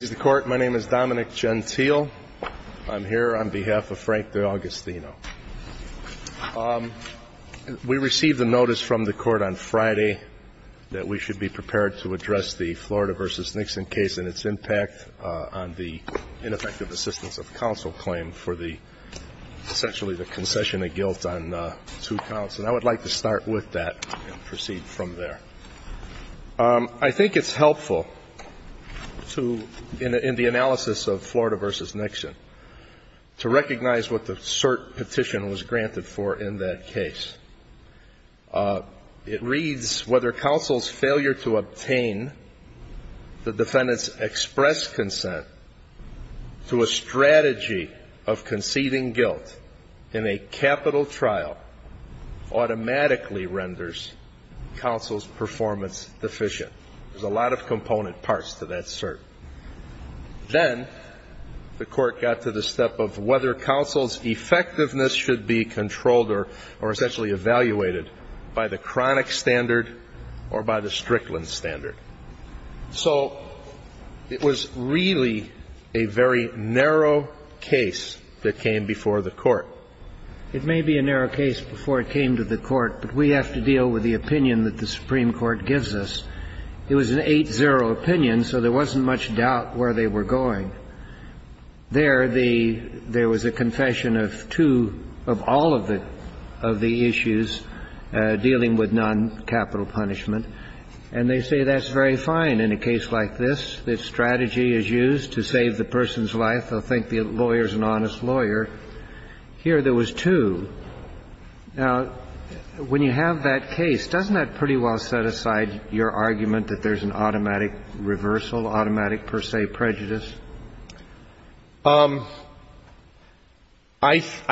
is the court. My name is Dominic Gentile. I'm here on behalf of Frank D'Augustino. We received a notice from the court on Friday that we should be prepared to address the Florida v. Nixon case and its impact on the ineffective assistance of counsel claim for the essentially the concession of guilt on two counts. And I would like to start with that and proceed from there. I think it's helpful to, in the analysis of Florida v. Nixon, to recognize what the cert petition was granted for in that case. It reads, whether counsel's failure to obtain the defendant's express consent to a strategy of conceding guilt in a capital trial automatically renders counsel's performance deficient. There's a lot of component parts to that cert. Then the court got to the step of whether counsel's effectiveness should be controlled or essentially evaluated by the chronic standard or by the Strickland standard. So it was really a very narrow case that came before the court. It may be a narrow case before it came to the court, but we have to deal with the opinion that the Supreme Court gives us. It was an 8-0 opinion, so there wasn't much doubt where they were going. There, the — there was a confession of two — of all of the issues dealing with noncapital punishment. And they say that's very fine in a case like this, that strategy is used to save the person's life. I think the lawyer's an honest lawyer. Here, there was two. Now, when you have that case, doesn't that pretty well set aside your argument that there's an automatic reversal, automatic per se prejudice? I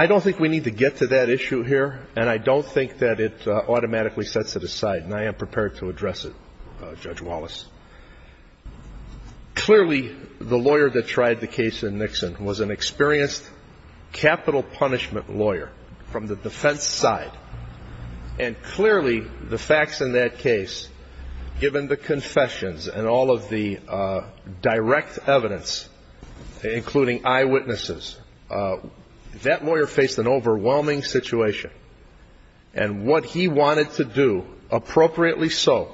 don't think we need to get to that issue here, and I don't think that it automatically sets it aside, and I am prepared to address it, Judge Wallace. Clearly, the lawyer that tried the case in Nixon was an experienced capital punishment lawyer from the defense side. And clearly, the facts in that case, given the confessions and all of the direct evidence, including eyewitnesses, that lawyer faced an overwhelming situation. And what he wanted to do, appropriately so,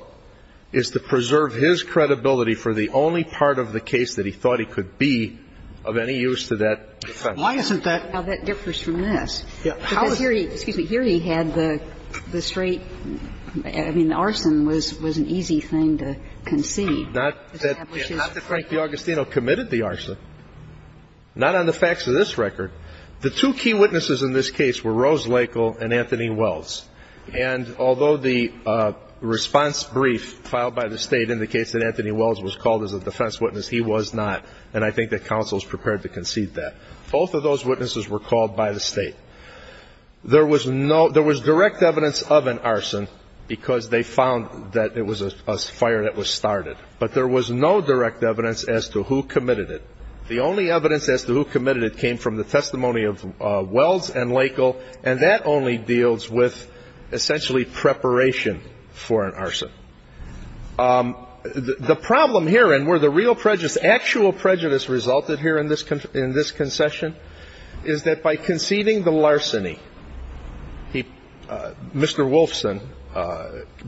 is to preserve his reputation and his credibility for the only part of the case that he thought he could be of any use to that defense. Why isn't that — Well, that differs from this. Yeah. Because here he — excuse me — here he had the straight — I mean, the arson was an easy thing to concede. Not that Frank D'Augustino committed the arson. Not on the facts of this record. The two key witnesses in this case were Rose Lakel and Anthony Wells. And although the response brief filed by the State indicates that Anthony Wells was called as a defense witness, he was not. And I think that counsel is prepared to concede that. Both of those witnesses were called by the State. There was no — there was direct evidence of an arson because they found that it was a fire that was started. But there was no direct evidence as to who committed it. The only evidence as to who committed it came from the testimony of Wells and Lakel, and that only deals with essentially preparation for an arson. The problem here, and where the real prejudice — actual prejudice resulted here in this concession, is that by conceding the larceny, he — Mr. Wolfson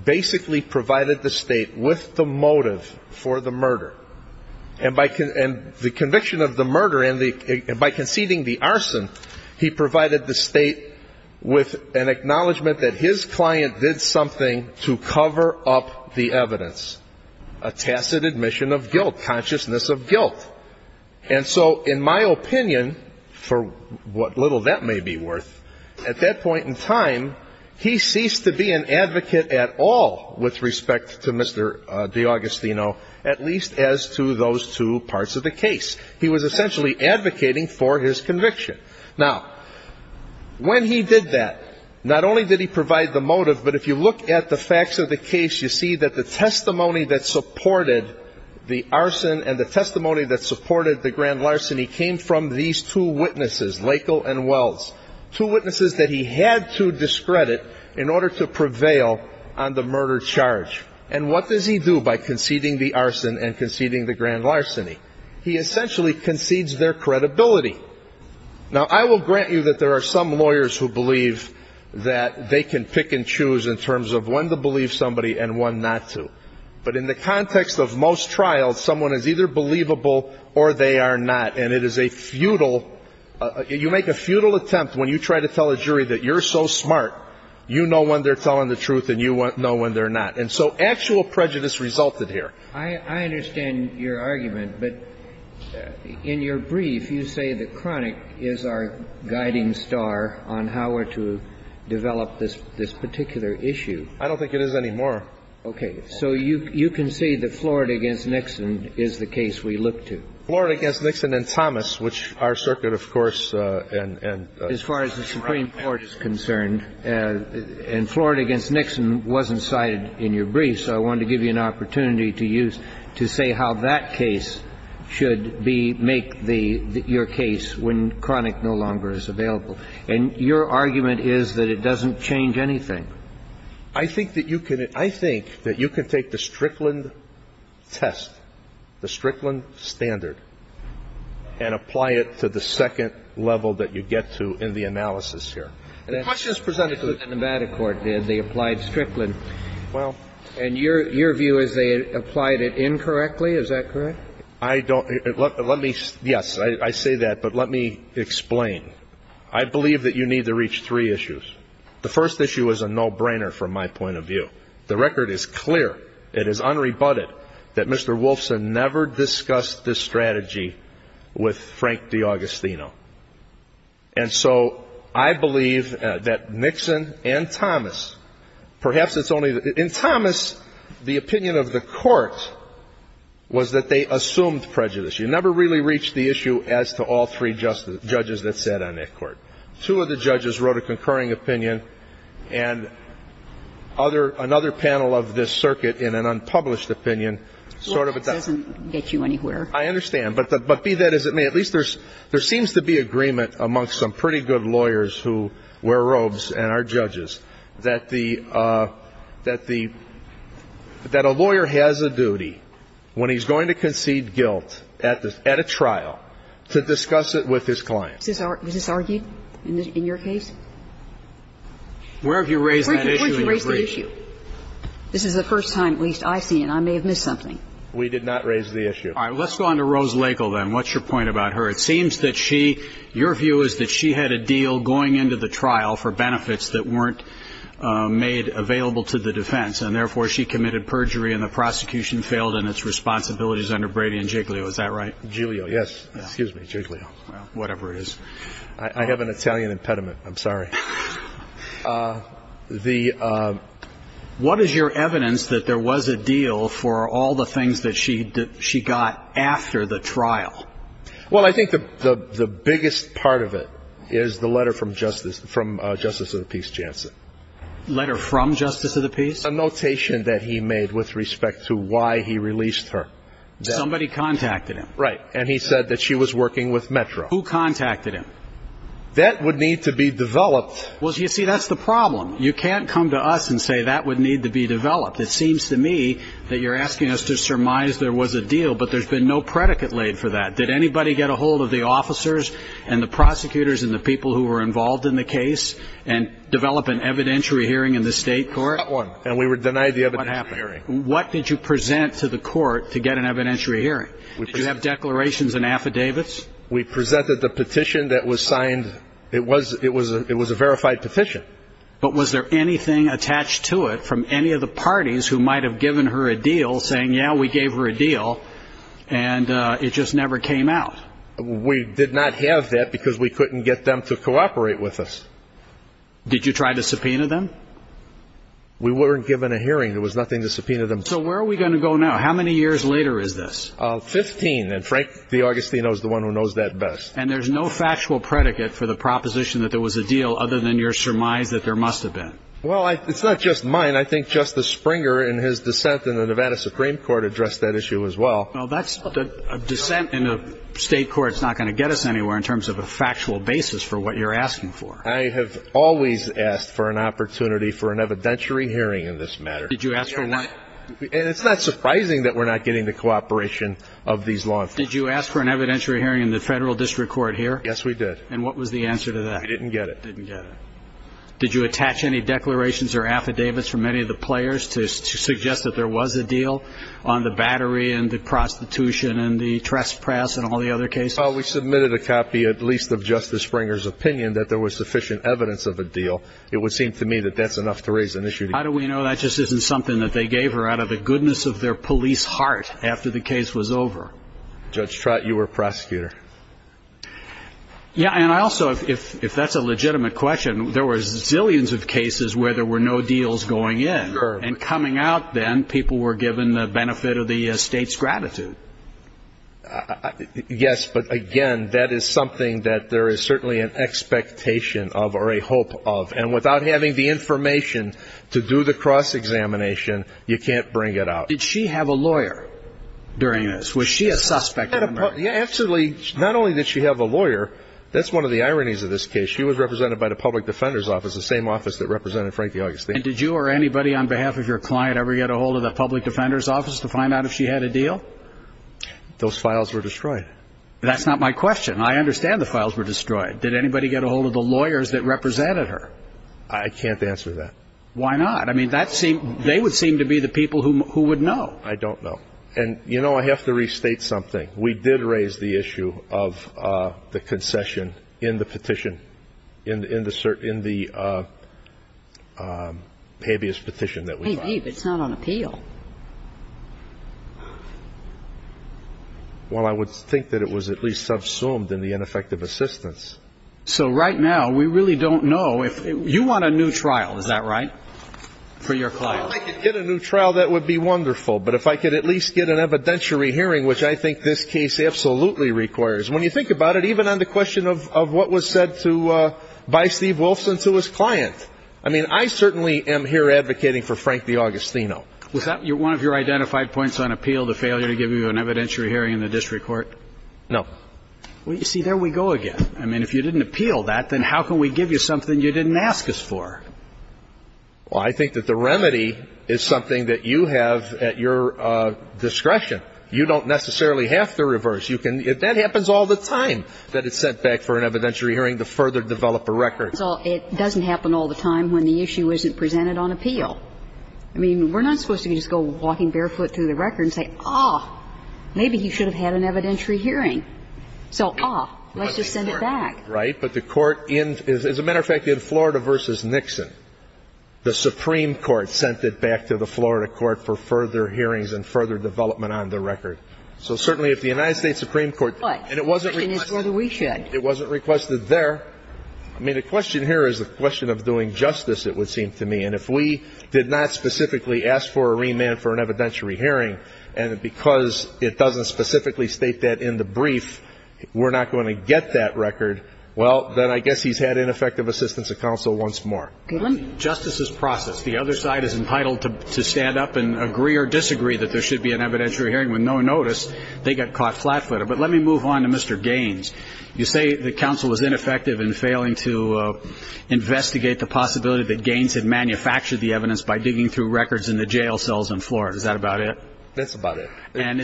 basically provided the State with the motive for the murder. And by — and the conviction of the murder and by conceding the arson, he provided the State with an acknowledgment that his client did something to cover up the evidence, a tacit admission of guilt, consciousness of guilt. And so, in my opinion, for what little that may be worth, at that point in time, he ceased to be an advocate at all with respect to Mr. D'Augustino, at least as to those two parts of the case. He was essentially advocating for his conviction. Now, when he did that, not only did he provide the motive, but if you look at the facts of the case, you see that the testimony that supported the arson and the testimony that supported the grand larceny came from these two witnesses, Lakel and Wells, two witnesses that he had to discredit in order to prevail on the murder charge. And what does he do by conceding the arson and conceding the grand larceny? He essentially concedes their credibility. Now I will grant you that there are some lawyers who believe that they can pick and choose in terms of when to believe somebody and when not to. But in the context of most trials, someone is either believable or they are not. And it is a futile — you make a futile attempt when you try to tell a jury that you're so smart, you know when they're telling the truth and you know when they're not. And so actual prejudice resulted here. I understand your argument. But in your brief, you say that Cronic is our guiding star on how we're to develop this particular issue. I don't think it is anymore. Okay. So you can say that Florida against Nixon is the case we look to? Florida against Nixon and Thomas, which our circuit, of course, and — Well, your argument is that it doesn't change anything. I think that you can — I think that you can take the Strickland test, the Strickland standard, and apply it to the second level that you get to in the analysis here. The question is presented to us in the matter court, the applied Strickland standard. And your view is they applied it incorrectly. Is that correct? I don't — let me — yes, I say that. But let me explain. I believe that you need to reach three issues. The first issue is a no-brainer from my point of view. The record is clear. It is unrebutted that Mr. Wolfson never discussed this strategy with Frank D'Augustino. And so I believe that Nixon and Thomas — perhaps it's only — in Thomas, the opinion of the Court was that they assumed prejudice. You never really reached the issue as to all three judges that sat on that Court. Two of the judges wrote a concurring opinion, and other — another panel of this circuit in an unpublished opinion sort of adopted — Well, that doesn't get you anywhere. I understand. But be that as it may, at least there's — there seems to be agreement amongst some pretty good lawyers who wear robes and are judges that the — that the — that a lawyer has a duty when he's going to concede guilt at a trial to discuss it with his client. Was this argued in your case? Where have you raised that issue in your brief? Where did you raise the issue? This is the first time, at least, I've seen it. I may have missed something. We did not raise the issue. All right. Let's go on to Rose Lagle, then. What's your point about her? It seems that she — your view is that she had a deal going into the trial for benefits that weren't made available to the defense, and therefore she committed perjury and the prosecution failed in its responsibilities under Brady and Giglio. Is that right? Giglio, yes. Excuse me. Giglio. Well, whatever it is. I have an Italian impediment. I'm sorry. The — What is your evidence that there was a deal for all the things that she — that she got after the trial? Well, I think the biggest part of it is the letter from Justice — from Justice of the Peace Jansen. Letter from Justice of the Peace? A notation that he made with respect to why he released her. Somebody contacted him. Right. And he said that she was working with Metro. Who contacted him? That would need to be developed. Well, you see, that's the problem. You can't come to us and say that would need to be developed. It seems to me that you're asking us to surmise there was a deal, but there's been no predicate laid for that. Did anybody get a hold of the officers and the prosecutors and the people who were involved in the case and develop an evidentiary hearing in the state court? Not one. And we were denied the evidentiary hearing. What did you present to the court to get an evidentiary hearing? Did you have declarations and affidavits? We presented the petition that was signed. It was — it was — it was a verified petition. But was there anything attached to it from any of the parties who might have given her a deal saying, yeah, we gave her a deal and it just never came out? We did not have that because we couldn't get them to cooperate with us. Did you try to subpoena them? We weren't given a hearing. There was nothing to subpoena them. So where are we going to go now? How many years later is this? Fifteen. And Frank D'Augustino is the one who knows that best. And there's no factual predicate for the proposition that there was a deal other than your surmise that there must have been? Well, it's not just mine. I think Justice Springer, in his dissent in the Nevada Supreme Court, addressed that issue as well. Well, that's — a dissent in a state court is not going to get us anywhere in terms of a factual basis for what you're asking for. I have always asked for an opportunity for an evidentiary hearing in this matter. Did you ask for one? And it's not surprising that we're not getting the cooperation of these law enforcers. Did you ask for an evidentiary hearing in the federal district court here? Yes, we did. And what was the answer to that? We didn't get it. Didn't get it. Did you attach any declarations or affidavits from any of the players to suggest that there was a deal on the battery and the prostitution and the trespass and all the other cases? Well, we submitted a copy, at least of Justice Springer's opinion, that there was sufficient evidence of a deal. It would seem to me that that's enough to raise an issue. How do we know that just isn't something that they gave her out of the goodness of their police heart after the case was over? Judge Trott, you were a prosecutor. Yeah, and I also — if that's a legitimate question, there were zillions of cases where there were no deals going in. And coming out then, people were given the benefit of the state's gratitude. Yes, but again, that is something that there is certainly an expectation of or a hope of. And without having the information to do the cross-examination, you can't bring it out. Did she have a lawyer during this? Was she a suspect in the murder? Absolutely. Not only did she have a lawyer — that's one of the ironies of this case. She was represented by the public defender's office, the same office that represented Frankie Augustine. And did you or anybody on behalf of your client ever get a hold of the public defender's office to find out if she had a deal? Those files were destroyed. That's not my question. I understand the files were destroyed. Did anybody get a hold of the lawyers that represented her? I can't answer that. Why not? I mean, they would seem to be the people who would know. I don't know. And, you know, I have to restate something. We did raise the issue of the concession in the petition, in the habeas petition that we filed. Hey, but it's not on appeal. Well, I would think that it was at least subsumed in the ineffective assistance. So right now, we really don't know if — you want a new trial, is that right, for your client? If I could get a new trial, that would be wonderful. But if I could at least get an evidentiary hearing, which I think this case absolutely requires, when you think about it, even on the question of what was said to — by Steve Wolfson to his client. I mean, I certainly am here advocating for Frankie Augustino. Was that one of your identified points on appeal, the failure to give you an evidentiary hearing in the district court? No. Well, you see, there we go again. I mean, if you didn't appeal that, then how can we give you something you didn't ask us for? Well, I think that the remedy is something that you have at your discretion. You don't necessarily have to reverse. You can — that happens all the time, that it's sent back for an evidentiary hearing to further develop a record. So it doesn't happen all the time when the issue isn't presented on appeal. I mean, we're not supposed to just go walking barefoot through the record and say, oh, maybe he should have had an evidentiary hearing. So, oh, let's just send it back. Right. But the court — as a matter of fact, in Florida v. Nixon, the Supreme Court sent it back to the Florida court for further hearings and further development on the record. So certainly if the United States Supreme Court — But the question is whether we should. It wasn't requested there. I mean, the question here is the question of doing justice, it would seem to me. And if we did not specifically ask for a remand for an evidentiary hearing, and because it doesn't specifically state that in the brief, we're not going to get that record, well, then I guess he's had ineffective assistance of counsel once more. In justice's process, the other side is entitled to stand up and agree or disagree that there should be an evidentiary hearing. With no notice, they got caught flat-footed. But let me move on to Mr. Gaines. You say that counsel was ineffective in failing to investigate the possibility that Gaines had manufactured the evidence by digging through records in the jail cells in Florida. Is that about it? That's about it. And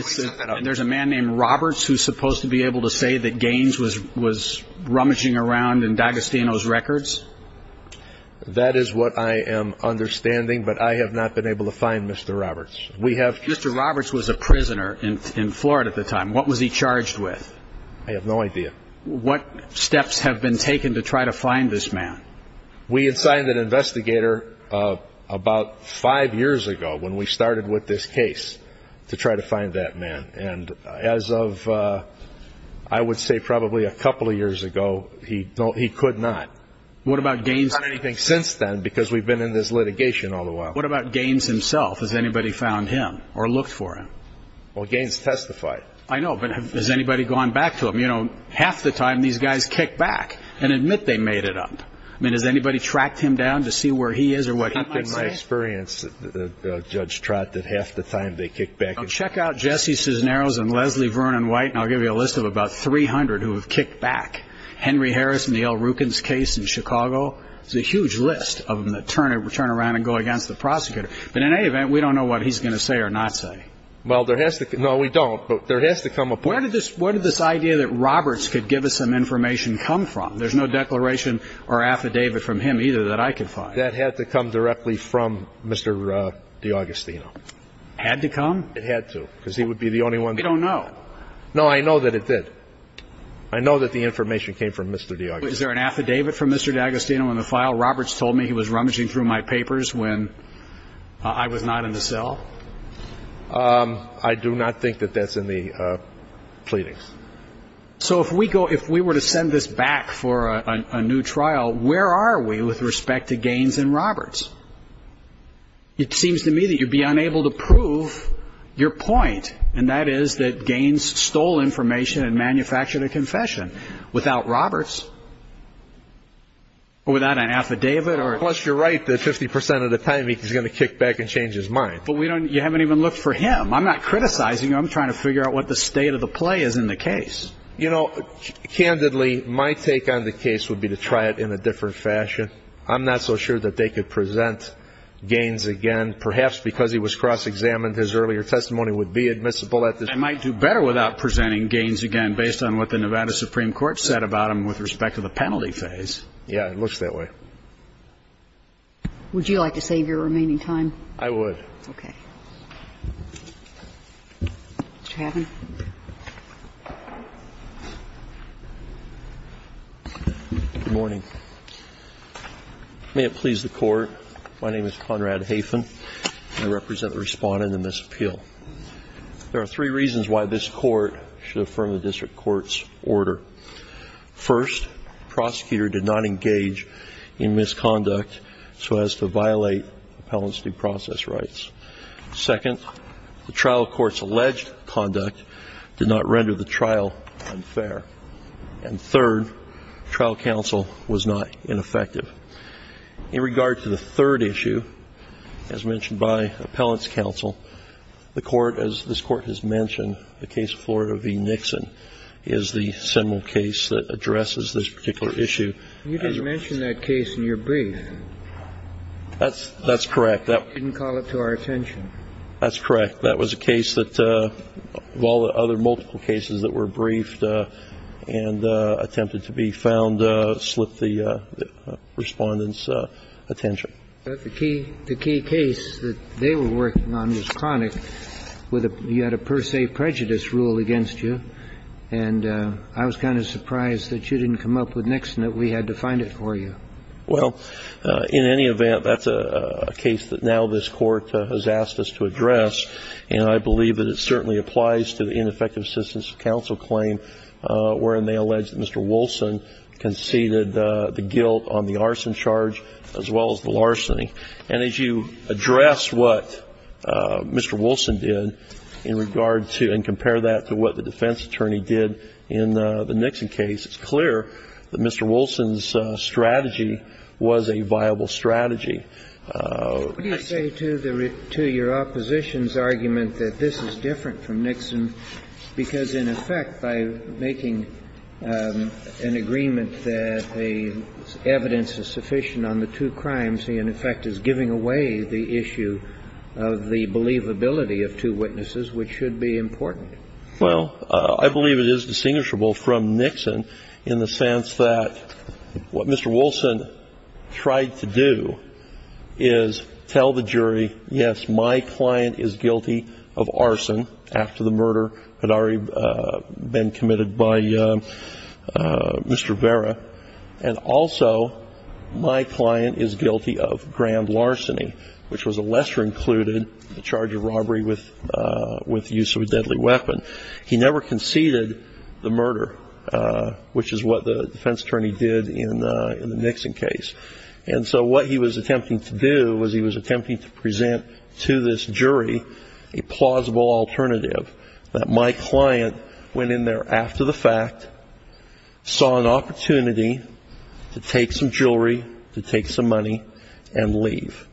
there's a man named Roberts who's supposed to be able to say that Gaines was rummaging around in D'Agostino's records? That is what I am understanding, but I have not been able to find Mr. Roberts. We have — Mr. Roberts was a prisoner in Florida at the time. What was he charged with? I have no idea. What steps have been taken to try to find this man? We had signed an investigator about five years ago, when we started with this case, to try to find that man. And as of, I would say, probably a couple of years ago, he could not. What about Gaines — Not anything since then, because we've been in this litigation all the while. What about Gaines himself? Has anybody found him or looked for him? Well, Gaines testified. I know, but has anybody gone back to him? You know, half the time, these guys kick back and admit they made it up. I mean, has anybody tracked him down to see where he is or what he might say? In my experience, Judge Trott, that half the time, they kick back and — Check out Jesse Cisneros and Leslie Vernon White, and I'll give you a list of about 300 who have kicked back. Henry Harris in the Al Rukins case in Chicago. It's a huge list of them that turn around and go against the prosecutor. But in any event, we don't know what he's going to say or not say. Well, there has to — No, we don't. But there has to come a point — Where did this idea that Roberts could give us some information come from? There's no declaration or affidavit from him either that I could find. That had to come directly from Mr. D'Agostino. Had to come? It had to, because he would be the only one — We don't know. No, I know that it did. I know that the information came from Mr. D'Agostino. Is there an affidavit from Mr. D'Agostino in the file? Roberts told me he was rummaging through my papers when I was not in the cell. I do not think that that's in the pleadings. So if we go — if we were to send this back for a new trial, where are we with respect to Gaines and Roberts? It seems to me that you'd be unable to prove your point, and that is that Gaines stole information and manufactured a confession without Roberts, or without an affidavit, or — Unless you're right that 50 percent of the time he's going to kick back and change his mind. But we don't — you haven't even looked for him. I'm not criticizing you. I'm trying to figure out what the state of the play is in the case. You know, candidly, my take on the case would be to try it in a different fashion. I'm not so sure that they could present Gaines again. Perhaps because he was cross-examined, his earlier testimony would be admissible at this point. They might do better without presenting Gaines again, based on what the Nevada Supreme Court said about him with respect to the penalty phase. Yeah, it looks that way. Would you like to save your remaining time? I would. Okay. Mr. Haven. Good morning. May it please the Court, my name is Conrad Haven. I represent the Respondent in this appeal. There are three reasons why this Court should affirm the district court's order. First, the prosecutor did not engage in misconduct so as to violate appellants' due process rights. Second, the trial court's alleged conduct did not render the trial unfair. And third, trial counsel was not ineffective. In regard to the third issue, as mentioned by appellants' counsel, the Court, as this Court has mentioned, the case of Florida v. Nixon is the seminal case that addresses this particular issue. You didn't mention that case in your brief. That's correct. You didn't call it to our attention. That's correct. That was a case that, of all the other multiple cases that were briefed and attempted to be found, slipped the Respondent's attention. But the key case that they were working on was chronic. You had a per se prejudice rule against you, and I was kind of surprised that you didn't come up with Nixon, that we had to find it for you. Well, in any event, that's a case that now this Court has asked us to address, and I believe that it certainly applies to the ineffective assistance of counsel claim wherein they allege that Mr. Wilson conceded the guilt on the arson charge as well as the larceny. And as you address what Mr. Wilson did in regard to and compare that to what the defense attorney did in the Nixon case, it's clear that Mr. Wilson's strategy was a viable strategy. What do you say to your opposition's argument that this is different from Nixon, because, in effect, by making an agreement that the evidence is sufficient on the two crimes, he, in effect, is giving away the issue of the believability of two witnesses, which should be important. Well, I believe it is distinguishable from Nixon in the sense that what Mr. Wilson tried to do is tell the jury, yes, my client is guilty of arson after the murder had already been committed by Mr. Vera, and also my client is guilty of grand larceny, which was a lesser included charge of robbery with the use of a deadly weapon. He never conceded the murder, which is what the defense attorney did in the Nixon case. And so what he was attempting to do was he was attempting to present to this jury a plausible alternative, that my client went in there after the fact, saw an opportunity to take some jewelry, to take some money, and leave.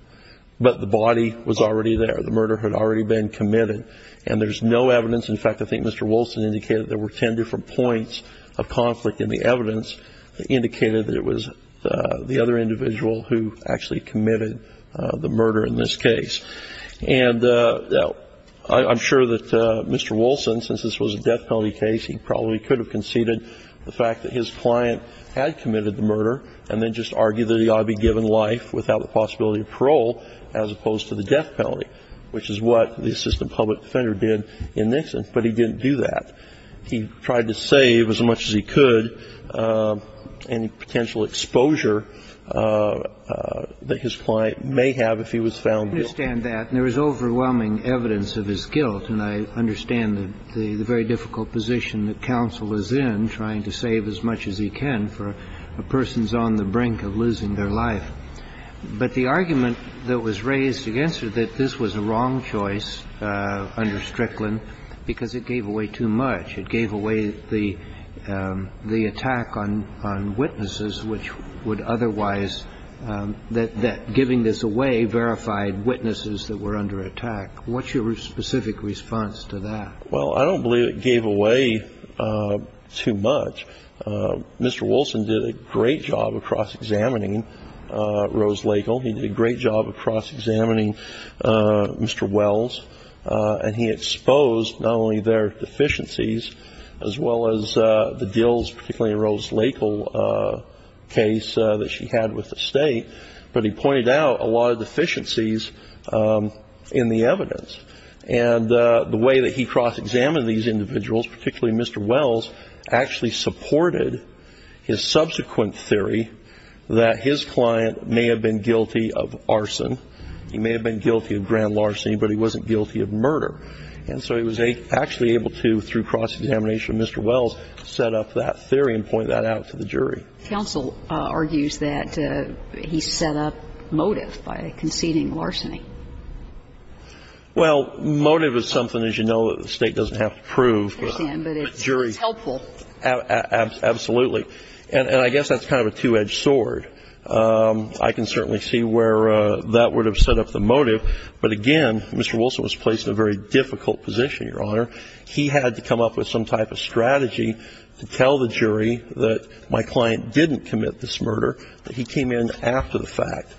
But the body was already there. The murder had already been committed. And there's no evidence. In fact, I think Mr. Wilson indicated there were ten different points of conflict in the evidence that indicated that it was the other individual who actually committed the murder in this case. And I'm sure that Mr. Wilson, since this was a death penalty case, he probably could have conceded the fact that his client had committed the murder, and then just argued that he ought to be given life without the possibility of parole, as opposed to the death penalty, which is what the assistant public defender did in Nixon. But he didn't do that. He tried to save as much as he could any potential exposure that his client may have if he was found guilty. I understand that. And there is overwhelming evidence of his guilt. And I understand the very difficult position that counsel is in, trying to save as much as he can for persons on the brink of losing their life. But the argument that was raised against you, that this was a wrong choice under Strickland, because it gave away too much. It gave away the attack on witnesses, which would otherwise, that giving this away verified witnesses that were under attack. What's your specific response to that? Well, I don't believe it gave away too much. Mr. Wilson did a great job of cross-examining Rose Lakel. He did a great job of cross-examining Mr. Wells. And he exposed not only their deficiencies, as well as the Dills, particularly Rose Lakel case that she had with the state, but he pointed out a lot of deficiencies in the evidence. And the way that he cross-examined these individuals, particularly Mr. Wells, actually supported his subsequent theory that his client may have been guilty of arson. He may have been guilty of grand larceny, but he wasn't guilty of murder. And so he was actually able to, through cross-examination of Mr. Wells, set up that theory and point that out to the jury. Counsel argues that he set up motive by conceding larceny. Well, motive is something, as you know, that the State doesn't have to prove. I understand, but it's helpful. Absolutely. And I guess that's kind of a two-edged sword. I can certainly see where that would have set up the motive. But again, Mr. Wilson was placed in a very difficult position, Your Honor. He had to come up with some type of strategy to tell the jury that my client didn't commit this murder, that he came in after the fact.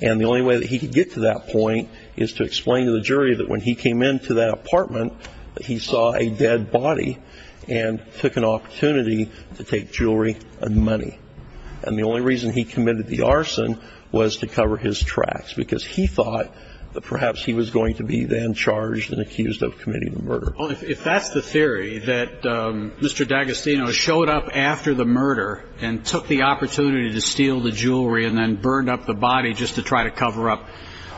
And the only way that he could get to that point is to explain to the jury that when he came into that apartment, that he saw a dead body and took an opportunity to take jewelry and money. And the only reason he committed the arson was to cover his tracks, because he thought that perhaps he was going to be then charged and accused of committing the murder. If that's the theory, that Mr. D'Agostino showed up after the murder and took the opportunity to steal the jewelry and then burned up the body just to try to cover up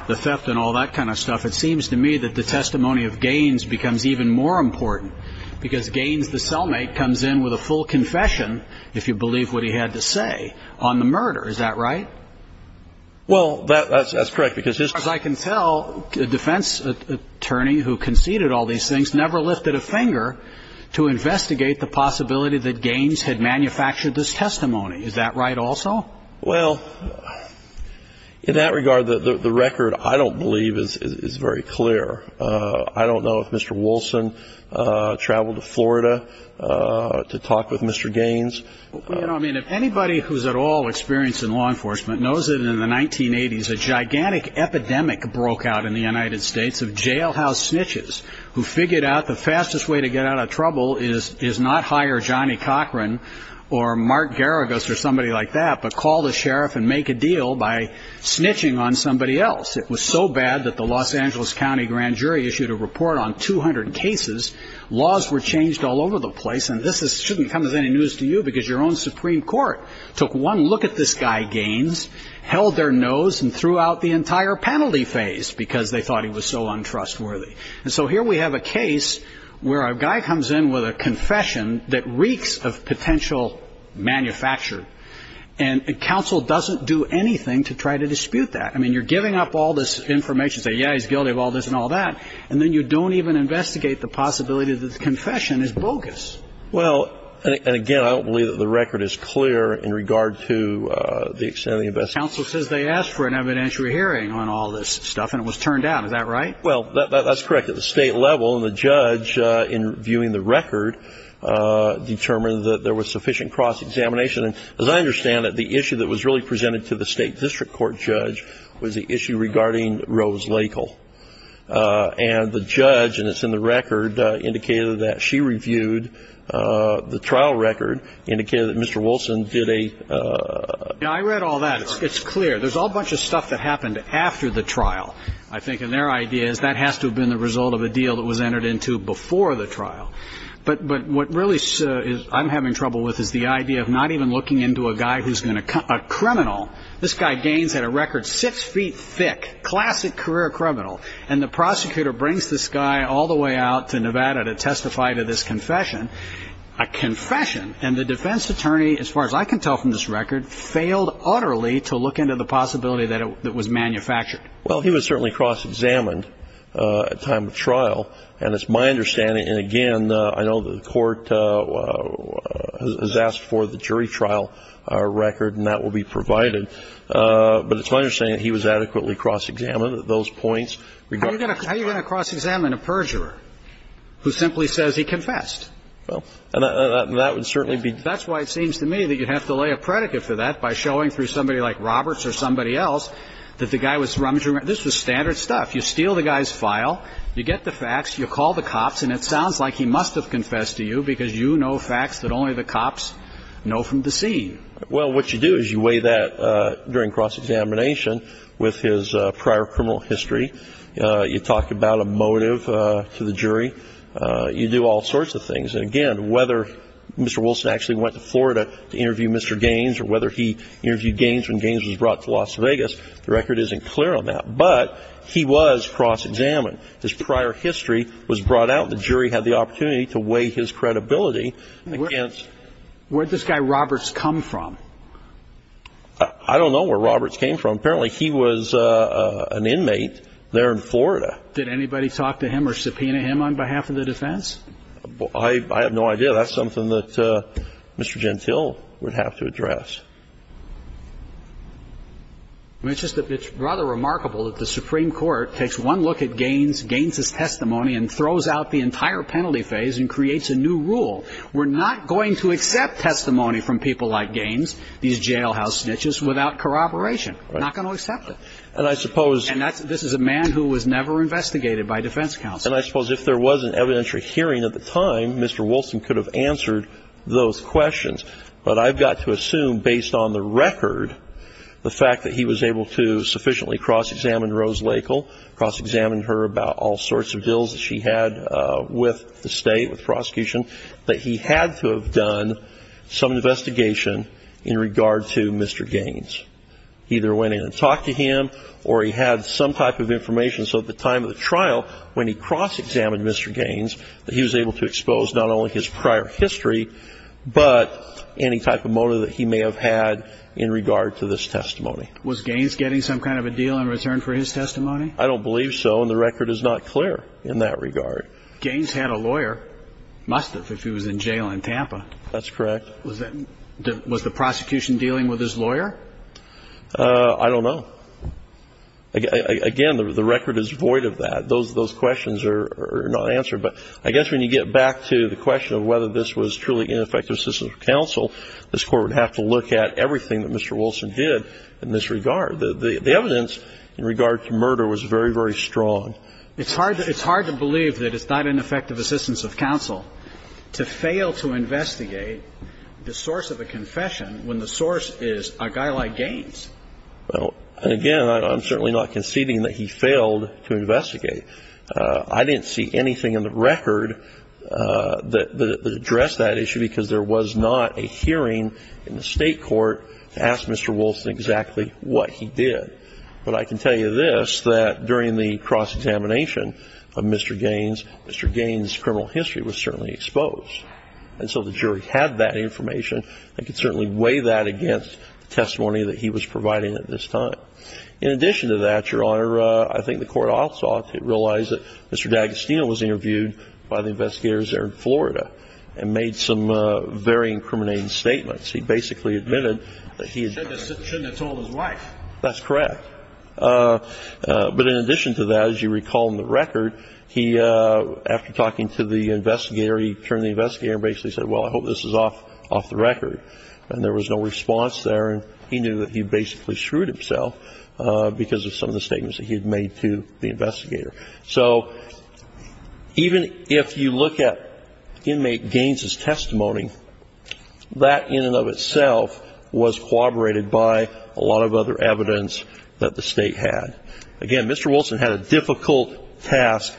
the theft and all that kind of stuff, it seems to me that the testimony of Gaines becomes even more important, because Gaines, the cellmate, comes in with a full confession, if you believe what he had to say, on the murder. Is that right? Well, that's correct, because as far as I can tell, the defense attorney who conceded all these things never lifted a finger to investigate the possibility that Gaines had manufactured this testimony. Is that right also? Well, in that regard, the record, I don't believe, is very clear. I don't know if Mr. Wilson traveled to Florida to talk with Mr. Gaines. Well, you know, I mean, if anybody who's at all experienced in law enforcement knows that in the 1980s a gigantic epidemic broke out in the United States of jailhouse snitches figured out the fastest way to get out of trouble is not hire Johnny Cochran or Mark Garagos or somebody like that, but call the sheriff and make a deal by snitching on somebody else. It was so bad that the Los Angeles County Grand Jury issued a report on 200 cases. Laws were changed all over the place. And this shouldn't come as any news to you, because your own Supreme Court took one look at this guy, Gaines, held their nose and threw out the entire penalty phase because they thought he was so untrustworthy. And so here we have a case where a guy comes in with a confession that reeks of potential manufacture. And the council doesn't do anything to try to dispute that. I mean, you're giving up all this information, say, yeah, he's guilty of all this and all that. And then you don't even investigate the possibility that the confession is bogus. Well, and again, I don't believe that the record is clear in regard to the extent of the investigation. Council says they asked for an evidentiary hearing on all this stuff and it was turned down. Is that right? Well, that's correct. At the state level, the judge, in viewing the record, determined that there was sufficient cross-examination. And as I understand it, the issue that was really presented to the state district court judge was the issue regarding Rose Lakel. And the judge, and it's in the record, indicated that she reviewed the trial record, indicated that Mr. Wilson did a... Yeah, I read all that. It's clear. There's a whole bunch of stuff that happened after the trial, I think. And their idea is that has to have been the result of a deal that was entered into before the trial. But what really I'm having trouble with is the idea of not even looking into a guy who's a criminal. This guy gains at a record six feet thick, classic career criminal. And the prosecutor brings this guy all the way out to Nevada to testify to this confession, a confession. And the defense attorney, as far as I can tell from this record, failed utterly to look into the possibility that it was manufactured. Well, he was certainly cross-examined at time of trial. And it's my understanding, and again, I know the court has asked for the jury trial record, and that will be provided. But it's my understanding that he was adequately cross-examined at those points. How are you going to cross-examine a perjurer who simply says he confessed? Well, that would certainly be... That's why it seems to me that you'd have to lay a predicate for that by showing through like Roberts or somebody else that the guy was rummaging around. This was standard stuff. You steal the guy's file. You get the facts. You call the cops. And it sounds like he must have confessed to you because you know facts that only the cops know from the scene. Well, what you do is you weigh that during cross-examination with his prior criminal history. You talk about a motive to the jury. You do all sorts of things. And again, whether Mr. Wilson actually went to Florida to interview Mr. Gaines or whether he was brought to Las Vegas, the record isn't clear on that. But he was cross-examined. His prior history was brought out. The jury had the opportunity to weigh his credibility. Where'd this guy Roberts come from? I don't know where Roberts came from. Apparently, he was an inmate there in Florida. Did anybody talk to him or subpoena him on behalf of the defense? I have no idea. That's something that Mr. Gentile would have to address. I mean, it's rather remarkable that the Supreme Court takes one look at Gaines' testimony and throws out the entire penalty phase and creates a new rule. We're not going to accept testimony from people like Gaines, these jailhouse snitches, without corroboration. We're not going to accept it. And this is a man who was never investigated by defense counsel. And I suppose if there was an evidentiary hearing at the time, Mr. Wilson could have answered those questions. But I've got to assume, based on the record, the fact that he was able to sufficiently cross-examine Rose Lakel, cross-examine her about all sorts of deals that she had with the state, with prosecution, that he had to have done some investigation in regard to Mr. Gaines. Either went in and talked to him or he had some type of information so at the time of the trial, when he cross-examined Mr. Gaines, that he was able to expose not only his prior history, but any type of motive that he may have had in regard to this testimony. Was Gaines getting some kind of a deal in return for his testimony? I don't believe so. And the record is not clear in that regard. Gaines had a lawyer, must have, if he was in jail in Tampa. That's correct. Was the prosecution dealing with his lawyer? I don't know. Again, the record is void of that. Those questions are not answered. But I guess when you get back to the question of whether this was truly ineffective assistance of counsel, this Court would have to look at everything that Mr. Wilson did in this regard. The evidence in regard to murder was very, very strong. It's hard to believe that it's not ineffective assistance of counsel to fail to investigate the source of a confession when the source is a guy like Gaines. Well, and again, I'm certainly not conceding that he failed to investigate. I didn't see anything in the record that addressed that issue because there was not a hearing in the State court to ask Mr. Wilson exactly what he did. But I can tell you this, that during the cross-examination of Mr. Gaines, Mr. Gaines' criminal history was certainly exposed. And so the jury had that information. I can certainly weigh that against the testimony that he was providing at this time. In addition to that, Your Honor, I think the Court also realized that Mr. D'Agostino was interviewed by the investigators there in Florida and made some very incriminating statements. He basically admitted that he had... Shouldn't have told his wife. That's correct. But in addition to that, as you recall in the record, he, after talking to the investigator, he turned to the investigator and basically said, well, I hope this is off the record. And there was no response there. He knew that he basically shrewd himself because of some of the statements that he had made to the investigator. So even if you look at inmate Gaines' testimony, that in and of itself was corroborated by a lot of other evidence that the State had. Again, Mr. Wilson had a difficult task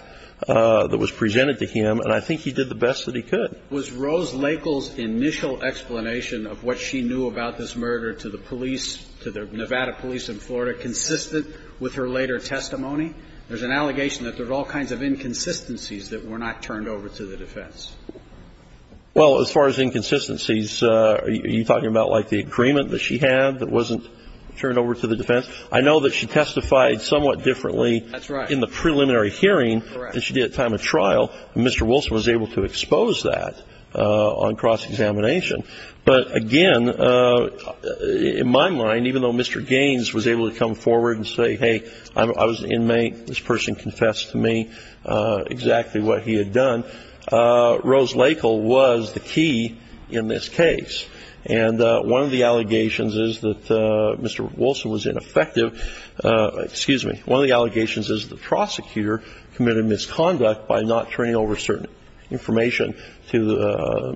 that was presented to him, and I think he did the best that he could. Was Rose Lakel's initial explanation of what she knew about this murder to the police, to the Nevada police in Florida, consistent with her later testimony? There's an allegation that there's all kinds of inconsistencies that were not turned over to the defense. Well, as far as inconsistencies, are you talking about like the agreement that she had that wasn't turned over to the defense? I know that she testified somewhat differently... That's right. ...in the preliminary hearing than she did at time of trial, and Mr. Wilson was able to expose that on cross-examination. But again, in my mind, even though Mr. Gaines was able to come forward and say, hey, I was an inmate, this person confessed to me exactly what he had done, Rose Lakel was the key in this case. And one of the allegations is that Mr. Wilson was ineffective. Excuse me. One of the allegations is the prosecutor committed misconduct by not turning over certain information to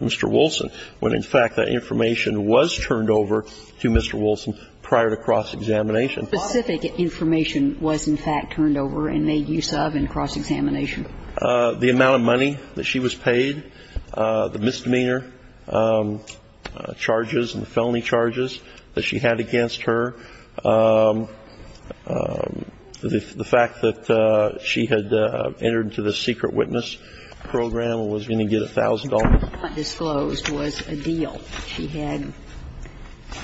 Mr. Wilson, when, in fact, that information was turned over to Mr. Wilson prior to cross-examination. Specific information was, in fact, turned over and made use of in cross-examination. The amount of money that she was paid, the misdemeanor charges and felony charges that she had against her, the fact that she had entered into the secret witness program and was going to get $1,000. What was not disclosed was a deal she had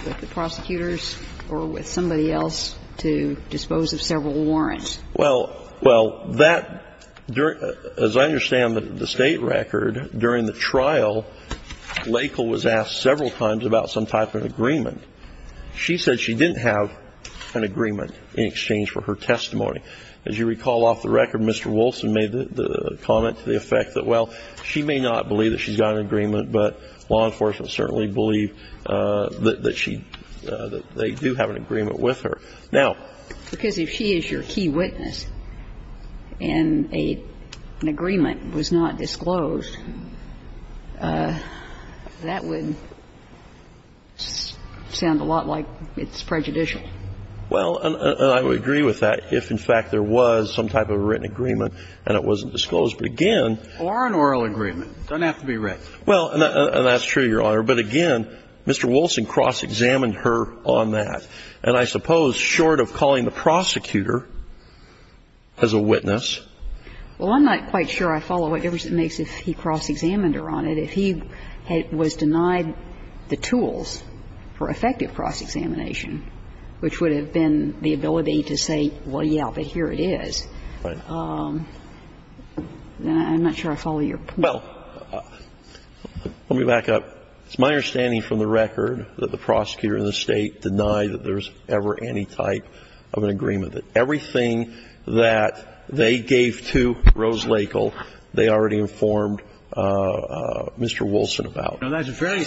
with the prosecutors or with somebody else to dispose of several warrants. Well, well, that, as I understand the State record, during the trial, Lakel was asked several times about some type of agreement. She said she didn't have an agreement in exchange for her testimony. As you recall off the record, Mr. Wilson made the comment to the effect that, well, she may not believe that she's got an agreement, but law enforcement certainly believe that she, that they do have an agreement with her. Now. Because if she is your key witness and an agreement was not disclosed, that would sound a lot like it's prejudicial. Well, and I would agree with that if, in fact, there was some type of written agreement and it wasn't disclosed. But, again. Or an oral agreement. It doesn't have to be written. Well, that's true, Your Honor. But, again, Mr. Wilson cross-examined her on that. And I suppose, short of calling the prosecutor as a witness. Well, I'm not quite sure I follow whatever it makes if he cross-examined her on it. If he was denied the tools for effective cross-examination, which would have been the ability to say, well, yeah, but here it is, then I'm not sure I follow your point. Well, let me back up. It's my understanding from the record that the prosecutor and the State deny that there's ever any type of an agreement. That everything that they gave to Rose Lakel, they already informed Mr. Wilson about. Now, that's very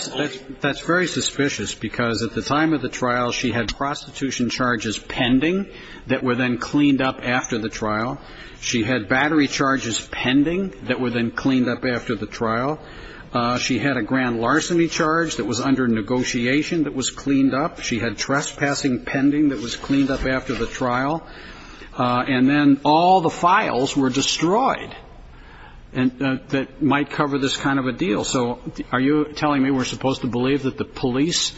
suspicious. Because at the time of the trial, she had prostitution charges pending that were then cleaned up after the trial. She had battery charges pending that were then cleaned up after the trial. She had a grand larceny charge that was under negotiation that was cleaned up. She had trespassing pending that was cleaned up after the trial. And then all the files were destroyed that might cover this kind of a deal. So are you telling me we're supposed to believe that the police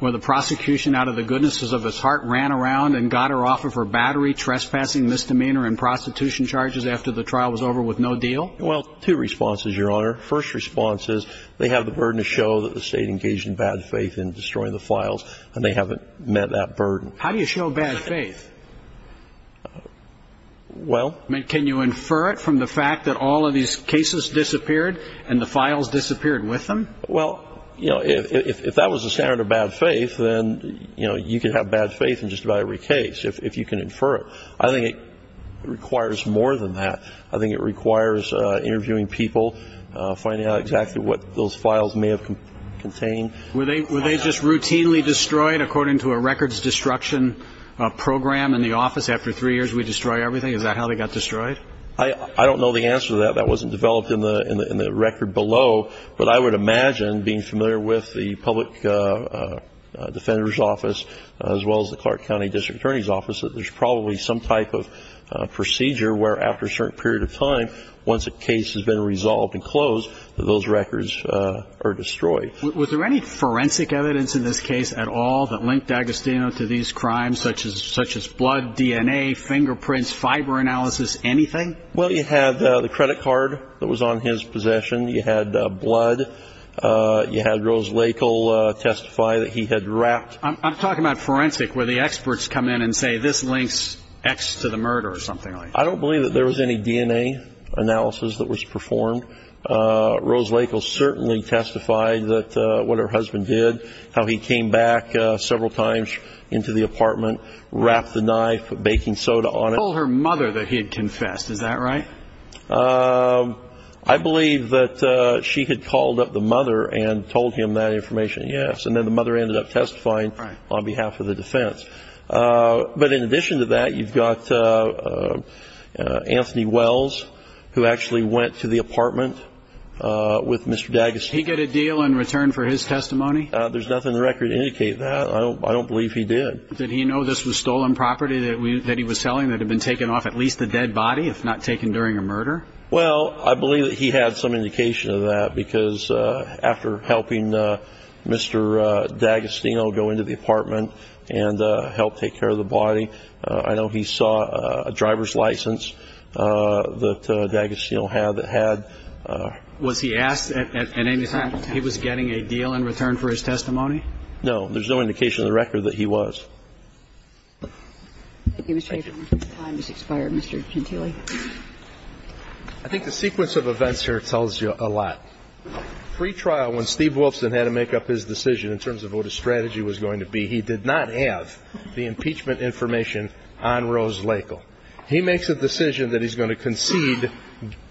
or the prosecution, out of the goodnesses of his heart, ran around and got her off of her battery, trespassing, misdemeanor, and prostitution charges after the trial was over with no deal? Well, two responses, Your Honor. First response is they have the burden to show that the State engaged in bad faith in destroying the files, and they haven't met that burden. How do you show bad faith? Well... Can you infer it from the fact that all of these cases disappeared and the files disappeared with them? Well, you know, if that was a standard of bad faith, then, you know, just about every case, if you can infer it. I think it requires more than that. I think it requires interviewing people, finding out exactly what those files may have contained. Were they just routinely destroyed according to a records destruction program in the office after three years we destroy everything? Is that how they got destroyed? I don't know the answer to that. That wasn't developed in the record below. But I would imagine, being familiar with the Public Defender's Office, as well as the Clark County District Attorney's Office, that there's probably some type of procedure where after a certain period of time, once a case has been resolved and closed, those records are destroyed. Was there any forensic evidence in this case at all that linked Agostino to these crimes, such as blood, DNA, fingerprints, fiber analysis, anything? Well, you had the credit card that was on his possession. You had blood. You had Rose Lakel testify that he had wrapped... I'm talking about forensic, where the experts come in and say, this links X to the murder or something like that. I don't believe that there was any DNA analysis that was performed. Rose Lakel certainly testified that what her husband did, how he came back several times into the apartment, wrapped the knife, put baking soda on it. Told her mother that he had confessed, is that right? I believe that she had called up the mother and told him that information, yes. And then the mother ended up testifying on behalf of the defense. But in addition to that, you've got Anthony Wells, who actually went to the apartment with Mr. D'Agostino. Did he get a deal in return for his testimony? There's nothing in the record to indicate that. I don't believe he did. Did he know this was stolen property that he was selling, that had been taken off at least a dead body, if not taken during a murder? Well, I believe that he had some indication of that, because after helping Mr. D'Agostino go into the apartment and help take care of the body, I know he saw a driver's license that D'Agostino had. Was he asked at any time if he was getting a deal in return for his testimony? No, there's no indication in the record that he was. I think the sequence of events here tells you a lot. Pre-trial, when Steve Wilson had to make up his decision in terms of what his strategy was going to be, he did not have the impeachment information on Rose Lakel. He makes a decision that he's going to concede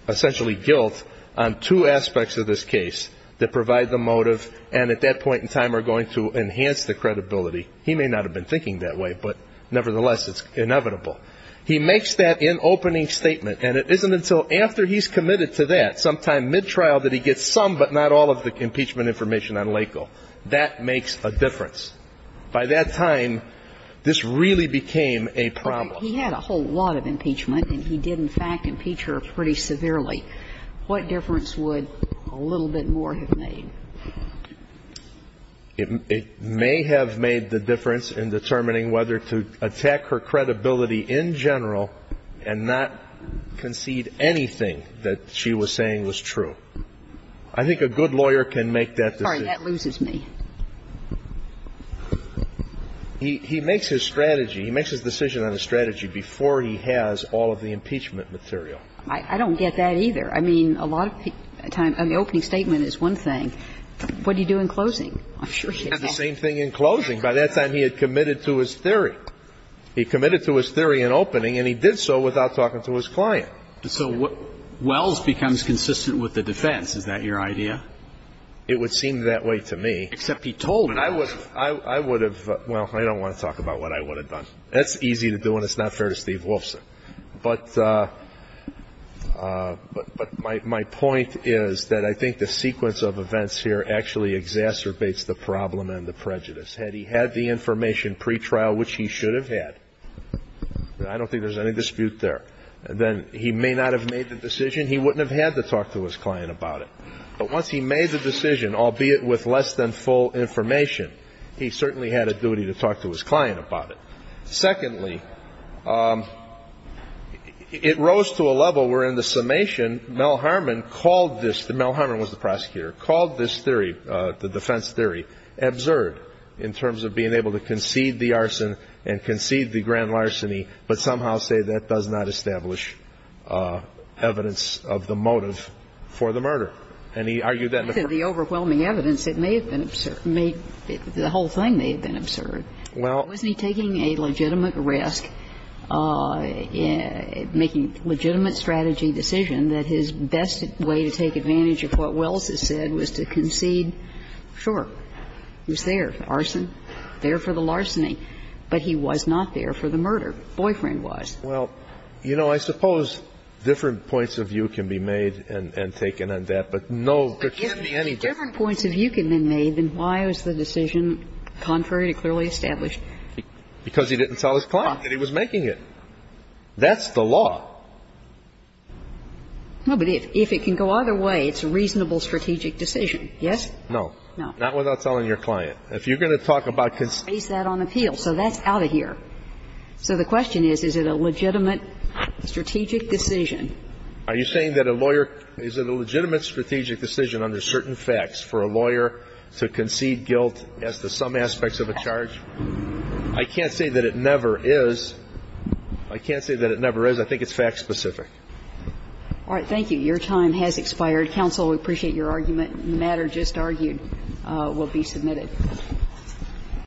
essentially guilt on two aspects of this case that provide the motive and at that point in time are going to enhance the credibility. He may not have been thinking that way, but nevertheless, it's inevitable. He makes that in opening statement and it isn't until after he's committed to that, sometime mid-trial, that he gets some but not all of the impeachment information on Lakel. That makes a difference. By that time, this really became a problem. He had a whole lot of impeachment and he did, in fact, impeach her pretty severely. What difference would a little bit more have made? It may have made the difference in determining whether to attack her credibility in general and not concede anything that she was saying was true. I think a good lawyer can make that decision. Sorry, that loses me. He makes his strategy, he makes his decision on his strategy before he has all of the impeachment material. I don't get that either. I mean, a lot of times the opening statement is one thing. What do you do in closing? I'm sure he had the same thing in closing. By that time, he had committed to his theory. He committed to his theory in opening and he did so without talking to his client. So Wells becomes consistent with the defense. Is that your idea? It would seem that way to me. Except he told him. I would have, well, I don't want to talk about what I would have done. That's easy to do and it's not fair to Steve Wolfson. But my point is that I think the sequence of events here actually exacerbates the problem and the prejudice. Had he had the information pretrial, which he should have had, I don't think there's any dispute there, then he may not have made the decision. He wouldn't have had to talk to his client about it. But once he made the decision, albeit with less than full information, he certainly had a duty to talk to his client about it. Secondly, it rose to a level where in the summation, Mel Harmon called this, Mel Harmon was the prosecutor, called this theory, the defense theory, absurd in terms of being able to concede the arson and concede the grand larceny, but somehow say that does not establish evidence of the motive for the murder. And he argued that the overwhelming evidence, it may have been absurd, the whole thing may have been absurd. Wasn't he taking a legitimate risk, making a legitimate strategy decision that his best way to take advantage of what Wells has said was to concede, sure, he was there, arson, there for the larceny, but he was not there for the murder, boyfriend-wise. Well, you know, I suppose different points of view can be made and taken on that, different points of view can be made, then why was the decision contrary to clearly established? Because he didn't tell his client that he was making it. That's the law. No, but if it can go either way, it's a reasonable strategic decision, yes? No. No. Not without telling your client. If you're going to talk about conceding. Based that on appeal, so that's out of here. So the question is, is it a legitimate strategic decision? Are you saying that a lawyer – is it a legitimate strategic decision under certain facts for a lawyer to concede guilt as to some aspects of a charge? I can't say that it never is. I can't say that it never is. I think it's fact-specific. All right. Thank you. Your time has expired. Counsel, we appreciate your argument. The matter just argued will be submitted.